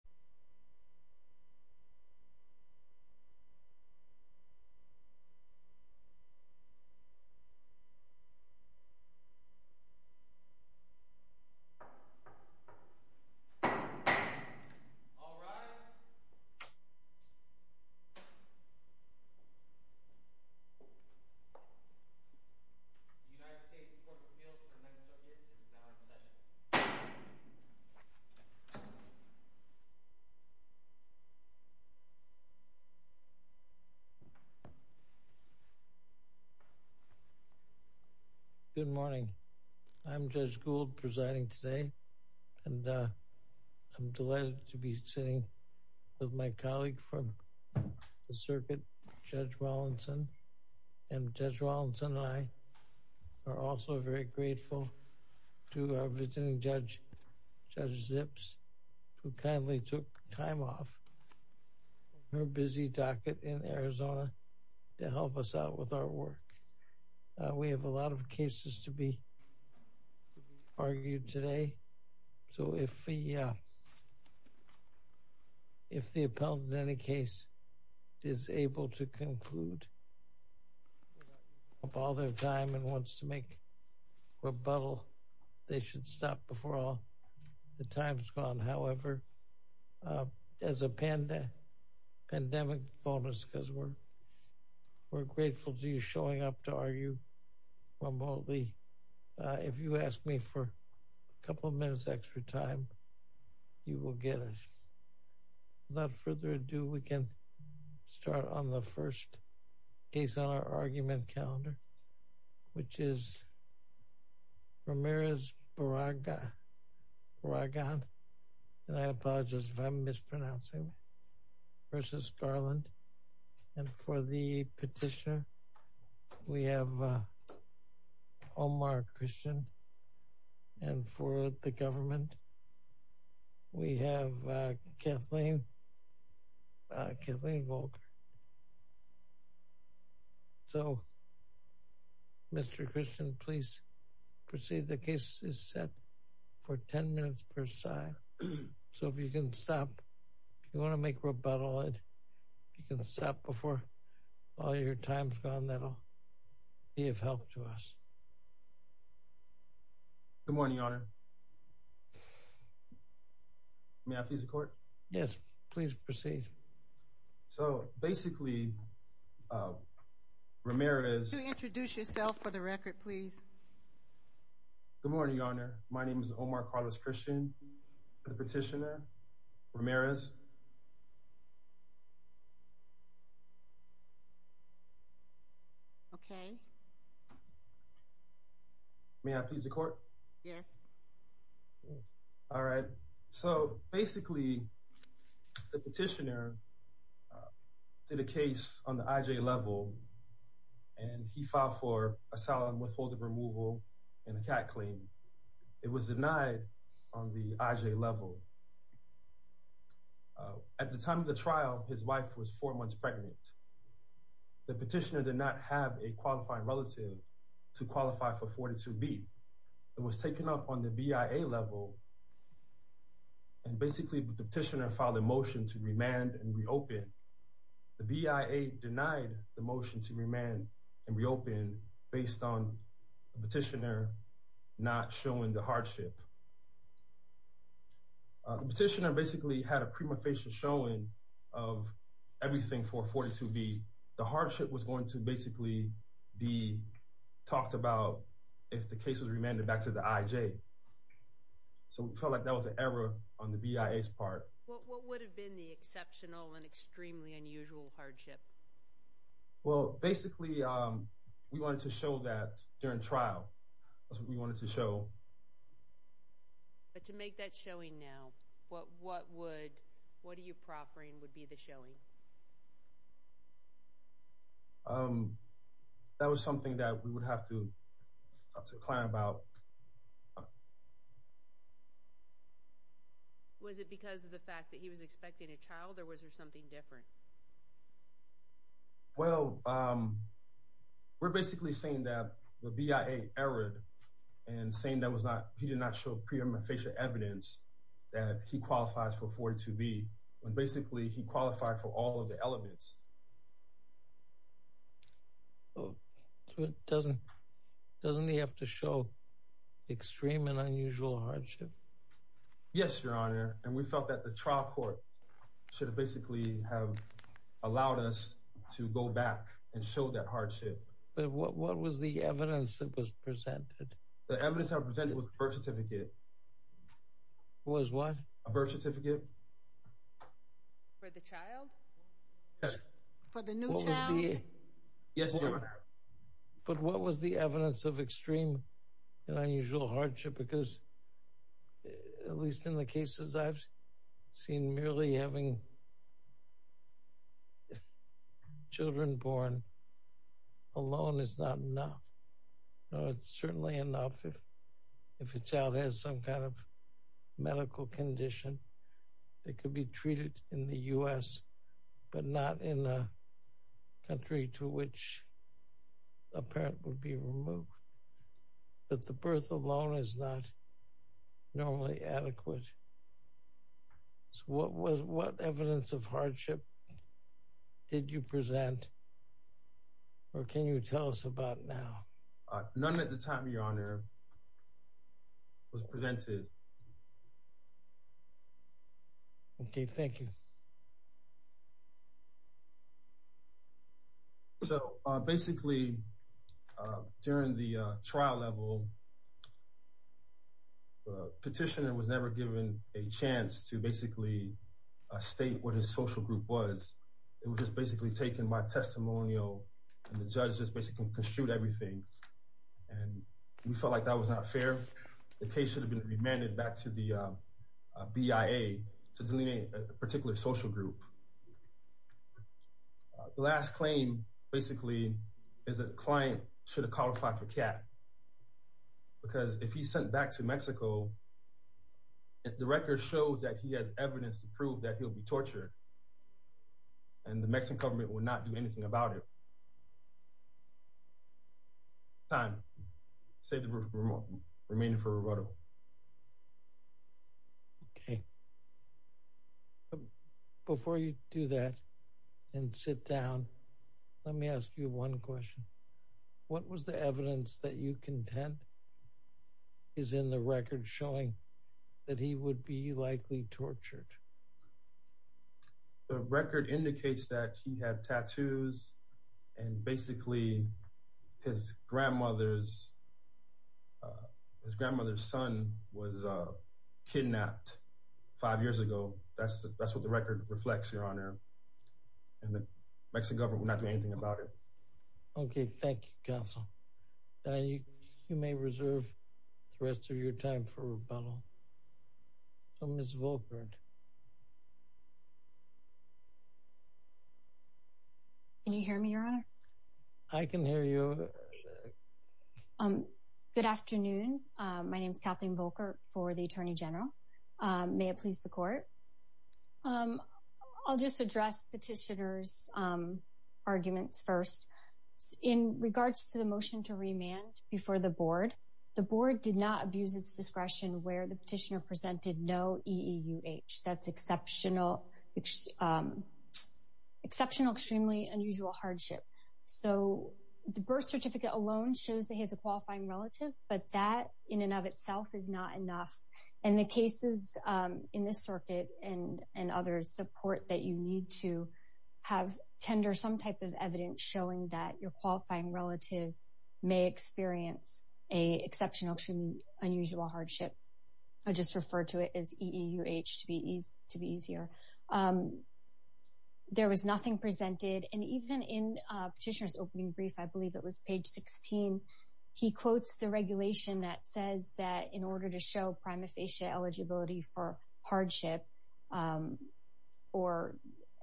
The United States Court of Appeals for the Ninth Circuit is now in session. Good morning. I'm Judge Gould presiding today and I'm delighted to be sitting with my colleague from the circuit, Judge Rawlinson. And Judge Rawlinson and I are also very grateful to our visiting judge, Judge Zips, who kindly took time off her busy docket in Arizona to help us out with our work. We have a lot of cases to be argued today, so if the if the could stop before all the time's gone. However, as a pandemic bonus, because we're grateful to you showing up to argue remotely, if you ask me for a couple of minutes extra time, you will get it. Without further ado, we can start on the first case on our argument calendar, which is Ramirez Barragan, and I apologize if I'm mispronouncing, versus Garland. And for the petitioner, we have Omar Christian. And for the government, we have Kathleen Volker. So Mr. Christian, please proceed. The case is set for 10 minutes per side. So if you can stop, if you want to make rebuttal, you can stop before all your time's gone. That'll be of help to us. Good morning, Your Honor. May I please the court? Yes, please proceed. So basically, Ramirez... Could you introduce yourself for the record, please? Good morning, Your Honor. My petitioner, Ramirez. Okay. May I please the court? Yes. All right. So basically, the petitioner did a case on the IJ level, and he filed for asylum withholding removal and a cat claim. It was denied on the IJ level. At the time of the trial, his wife was four months pregnant. The petitioner did not have a qualifying relative to qualify for 42B. It was taken up on the BIA level, and basically, the petitioner filed a motion to remand and reopen. The BIA denied the motion to reopen. The petitioner basically had a prima facie showing of everything for 42B. The hardship was going to basically be talked about if the case was remanded back to the IJ. So we felt like that was an error on the BIA's part. What would have been the exceptional and extremely unusual hardship? Well, basically, we wanted to show that during trial. That's what we wanted to show. But to make that showing now, what would... What are you proffering would be the showing? That was something that we would have to plan about. Was it because of the fact that he was expecting a child or was there something different? Well, we're basically saying that the BIA erred and saying that he did not show prima facie evidence that he qualifies for 42B. Basically, he qualified for all of the elements. Doesn't he have to show extreme and unusual hardship? Yes, Your Honor. And we felt that the trial court should have basically have allowed us to go back and show that hardship. But what was the evidence that was presented? The evidence I presented was a birth certificate. Was what? A birth certificate. For the child? Yes. For the new child? Yes, Your Honor. But what was the evidence of extreme and unusual hardship? Because at least in the cases I've seen, merely having children born alone is not enough. No, it's certainly enough if a child has some kind of medical condition that could be treated in the U.S., but not in a country to which a parent would be removed. But the birth alone is not normally adequate. So what evidence of hardship did you present or can you tell us about now? None at the time, Your Honor, was presented. OK, thank you. So basically, during the trial level, the petitioner was never given a chance to basically state what his social group was. It was just basically taken by testimonial, and the judge just basically construed everything. And we felt like that was not fair. The case should have been remanded back to the BIA to delineate a particular social group. The last claim, basically, is that the client should have qualified for CAT. Because if he's sent back to Mexico, the record shows that he has evidence to prove that he'll be tortured. And the Mexican government would not do anything about it. Time, save the remaining for rebuttal. OK. Before you do that and sit down, let me ask you one question. What was the evidence that you contend is in the record showing that he would be likely tortured? The record indicates that he had tattoos and basically his grandmother's son was kidnapped five years ago. That's what the record reflects, Your Honor. And the Mexican government would not do anything about it. OK. Thank you, Counsel. You may reserve the rest of your time for rebuttal. Ms. Volkert. Can you hear me, Your Honor? I can hear you. Good afternoon. My name is Kathleen Volkert for the Attorney General. May it please the Court. I'll just address Petitioner's arguments first. In regards to the motion to remand before the Board, the Board did not abuse its discretion where the Petitioner presented no EEUH. That's exceptional. Exceptional, extremely unusual hardship. So the birth certificate alone shows that he has a qualifying relative, but that in and of itself is not enough. And the cases in this circuit and others support that you need to have tender some type of evidence showing that your qualifying relative may experience a exceptional, extremely unusual hardship. I just refer to it as EEUH to be easier. There was nothing presented. And even in Petitioner's opening brief, I believe it was page 16, he quotes the regulation that says that in order to show prima facie eligibility for hardship or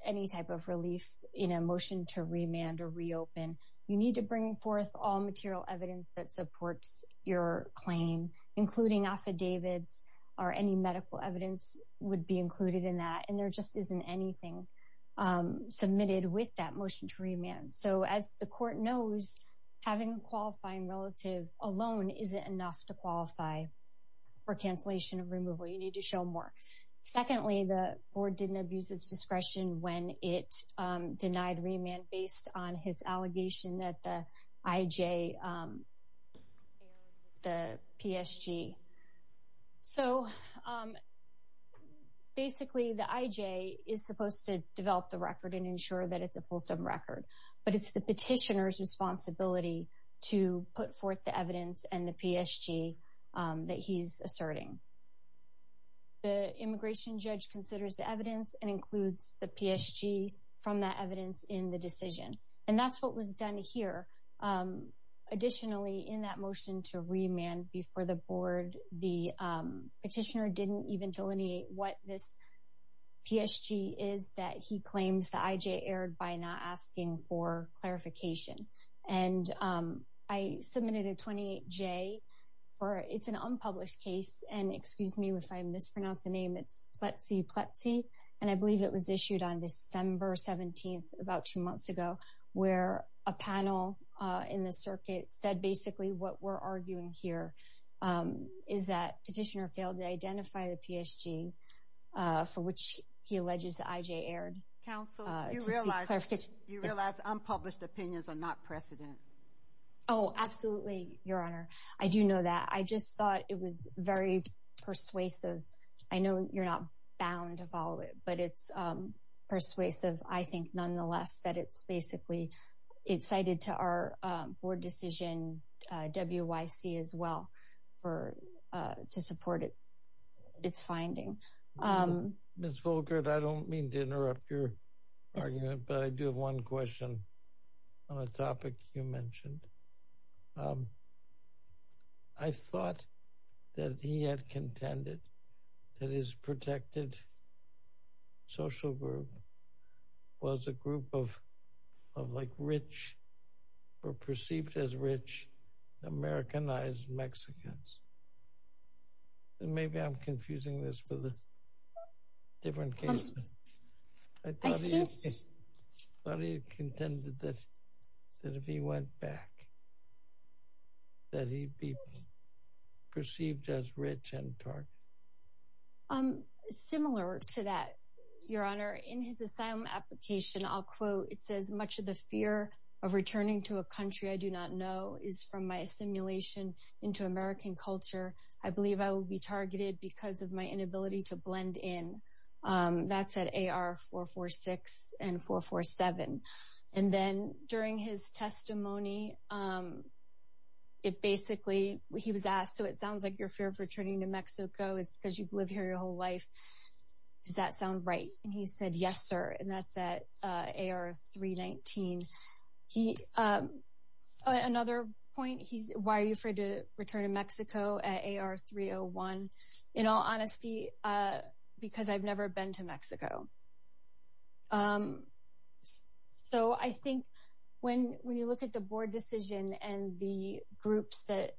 any type of relief in a motion to remand or reopen, you need to bring forth all material evidence that supports your claim, including affidavits or any medical evidence would be included in that. And there just isn't anything submitted with that motion to remand. So as the Court knows, having a qualifying relative alone isn't enough to qualify for cancellation of removal. You need to show more. Secondly, the Board didn't abuse its discretion when it denied remand based on his allegation that the IJ, the PSG. So basically, the IJ is supposed to develop the record and ensure that it's a fulsome record, but it's the Petitioner's responsibility to put forth the evidence and the PSG that he's asserting. The immigration judge considers the evidence and includes the PSG from that evidence in the decision. And that's what was done here. Additionally, in that motion to remand before the Board, the Petitioner didn't even delineate what this PSG is that he claims the IJ erred by not asking for clarification. And I submitted a 28-J. It's an unpublished case. And excuse me if I mispronounce the name. It's Pletsy Pletsy. And I believe it was issued on December 17th, about two months ago, where a panel in the circuit said basically what we're arguing here is that Petitioner failed to identify the PSG, for which he alleges the IJ erred. Counsel, do you realize unpublished opinions are not precedent? Oh, absolutely, Your Honor. I do know that. I just thought it was very persuasive. I know you're not bound to follow it, but it's persuasive. I think, nonetheless, that it's basically cited to our board decision, WYC, as well, to support its finding. Ms. Volkert, I don't mean to interrupt your argument, but I do have one question on a topic you mentioned. I thought that he had contended that his protected social group was a group of like rich or perceived as rich Americanized Mexicans. And maybe I'm confusing this with a different case. I thought he had contended that if he went back, that he'd be perceived as rich and targeted. Similar to that, Your Honor, in his asylum application, I'll quote, it says, much of the fear of returning to a country I do not know is from my assimilation into American culture. I believe I will be targeted because of my inability to blend in. That's at AR446 and 447. And then, during his testimony, it basically, he was asked, so it sounds like your fear of returning to Mexico is because you've lived here your whole life. Does that sound right? And he said, yes, sir. And that's at AR319. Another point, why are you afraid to return to Mexico at AR301? In all honesty, because I've never been to Mexico. So I think when you look at the board decision and the groups that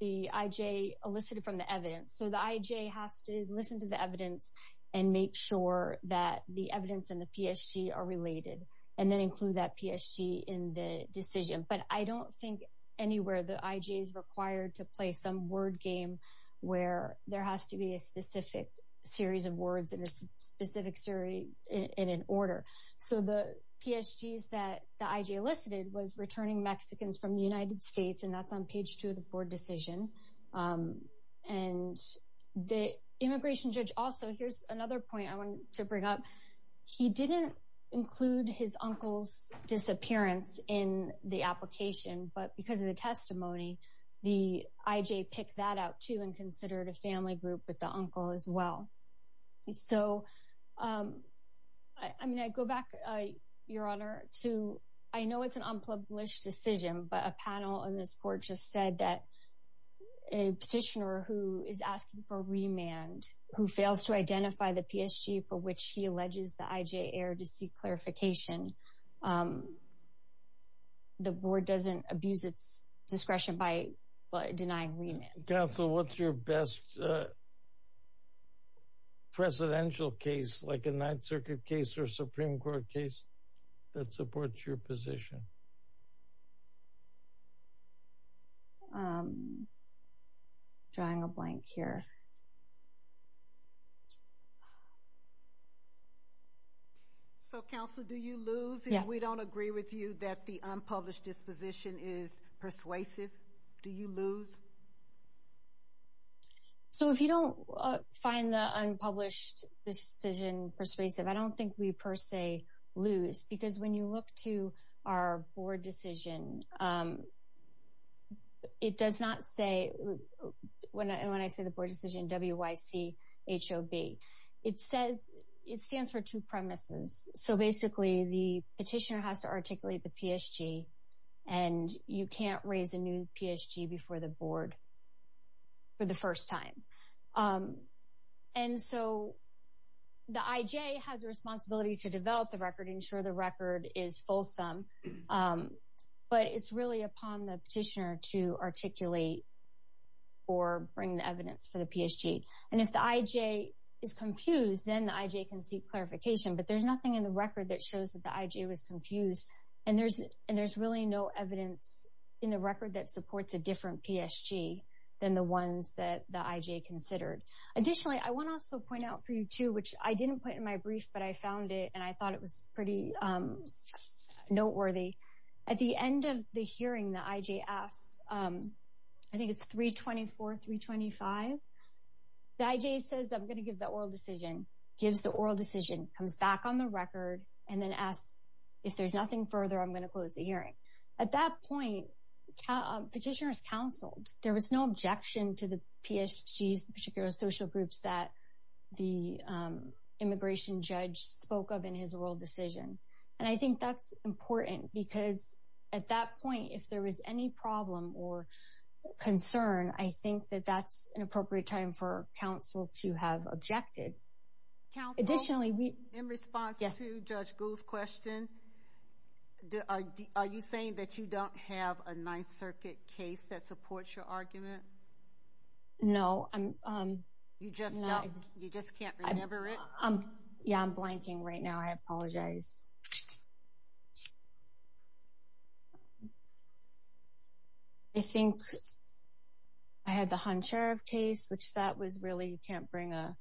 the IJ elicited from the evidence, so the IJ has to listen to the evidence and make sure that the evidence and the PSG are related, and then include that PSG in the decision. But I don't think anywhere the IJ is required to play some word game where there has to be a specific series of words in a specific series in an order. So the PSGs that the IJ elicited was returning Mexicans from the United States, and that's on page two of the board decision. And the immigration judge also, here's another point I wanted to bring up. He didn't include his uncle's disappearance in the application, but because of the testimony, the IJ picked that out too and considered a family group with the uncle as well. So I mean, I go back, Your Honor, to, I know it's an unpublished decision, but a panel in this court just said that a petitioner who is asking for remand, who fails to identify the PSG for which he alleges the IJ erred, to seek clarification, the board doesn't abuse its discretion by denying remand. Counsel, what's your best presidential case, like a Ninth Circuit case or Supreme Court case that supports your position? Drawing a blank here. So, Counsel, do you lose if we don't agree with you that the unpublished disposition is persuasive? Do you lose? So if you don't find the unpublished decision persuasive, I don't think we per se lose, because when you look to our board decision, it does not say, when I say the board decision, W-Y-C-H-O-B, it says, it stands for two premises. So basically, the petitioner has to articulate the PSG, and you can't raise a new PSG before the board for the first time. And so the IJ has a responsibility to develop the record, ensure the record is fulsome, but it's really upon the petitioner to articulate or bring the evidence for the PSG. And if the IJ is confused, then the IJ can seek clarification, but there's nothing in the record that shows that the IJ was confused, and there's really no evidence in the record that supports a different PSG than the ones that the IJ considered. Additionally, I want to also point out for you, too, which I didn't put in my brief, but I found it, and I thought it was pretty noteworthy. At the end of the hearing, the IJ asks, I think it's 324, 325, the IJ says, I'm going to give the oral decision, gives the oral decision, comes back on the record, and then asks, if there's nothing further, I'm going to close the hearing. At that point, petitioners counseled. There was no objection to the PSGs, the particular social groups that the immigration judge spoke of in his oral decision. And I think that's important because at that point, if there was any problem or concern, I think that that's an appropriate time for counsel to have objected. Counsel, in response to Judge Gould's question, are you saying that you don't have a Ninth Circuit case that supports your argument? No. You just can't remember it? Yeah, I'm blanking right now. I apologize. I think I had the Han Sheriff case, which that was really, you can't bring a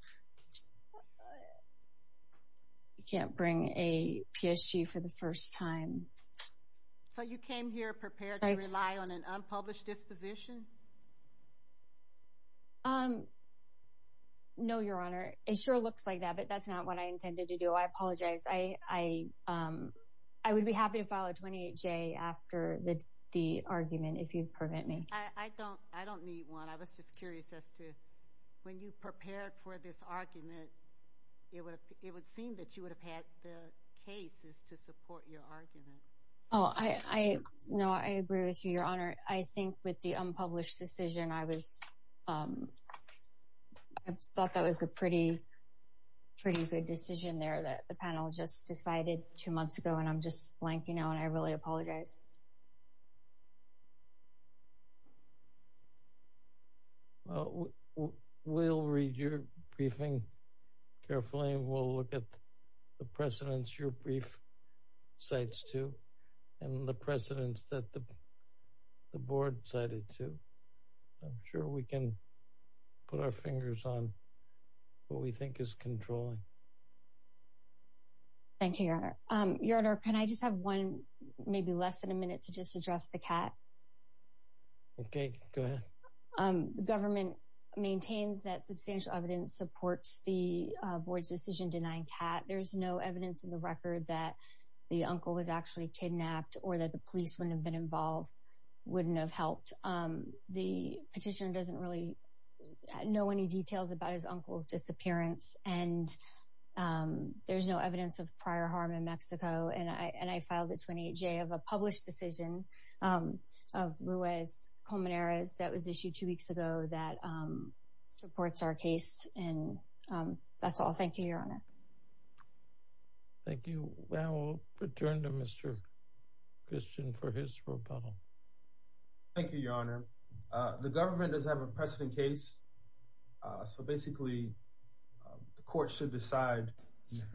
PSG for the first time. So you came here prepared to rely on an unpublished disposition? No, Your Honor. It sure looks like that, but that's not what I intended to do. I apologize. I would be happy to file a 28-J after the argument, if you'd permit me. I don't need one. I was just curious as to when you prepared for this argument, it would seem that you would have had the cases to support your argument. Oh, no, I agree with you, Your Honor. I think with the unpublished decision, I thought that was a pretty good decision there that the panel just decided two months ago. And I'm just blanking out. And I really apologize. Well, we'll read your briefing carefully. We'll look at the precedents your brief cites to and the precedents that the board cited to. I'm sure we can put our fingers on what we think is controlling. Thank you, Your Honor. Your Honor, can I just have one, maybe less than a minute, to just address the cat? Okay, go ahead. The government maintains that substantial evidence supports the board's decision denying cat. There's no evidence in the record that the uncle was actually kidnapped or that the police wouldn't have been involved, wouldn't have helped. The petitioner doesn't really know any details about his uncle's disappearance. And there's no evidence of prior harm in Mexico. And I filed a 28-J of a published decision of Ruiz-Colmenares that was issued two weeks ago that supports our case. And that's all. Thank you, Your Honor. Thank you. We'll return to Mr. Christian for his rebuttal. Thank you, Your Honor. The government does have a precedent case. So basically, the court should decide,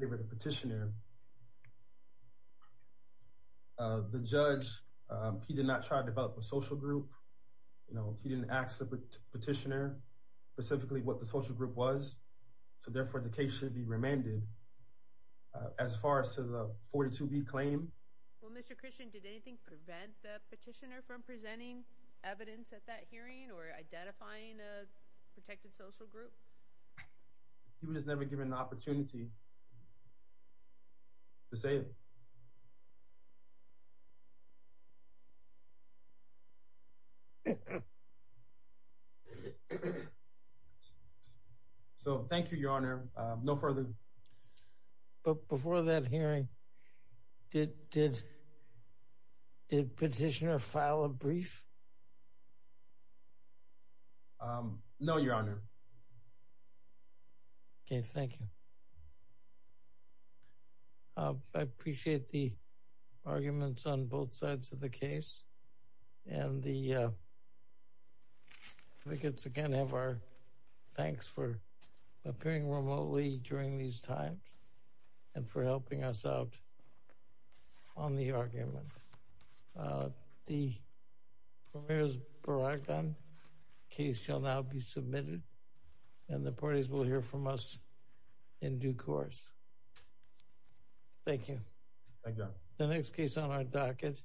give it a petitioner. The judge, he did not try to develop a social group. You know, he didn't ask the petitioner specifically what the social group was. So therefore, the case should be remanded. As far as to the 42B claim. Well, Mr. Christian, did anything prevent the petitioner from presenting evidence at that hearing or identifying a protected social group? He was just never given the opportunity to say it. So thank you, Your Honor. No further. But before that hearing, did the petitioner file a brief? No, Your Honor. Okay. Thank you. I appreciate the arguments on both sides of the case. And the advocates, again, have our thanks for appearing remotely during these times and for helping us out on the argument. The Ramirez-Barragan case shall now be submitted. And the parties will hear from us in due course. Thank you. Thank you, Your Honor. The next case on our docket.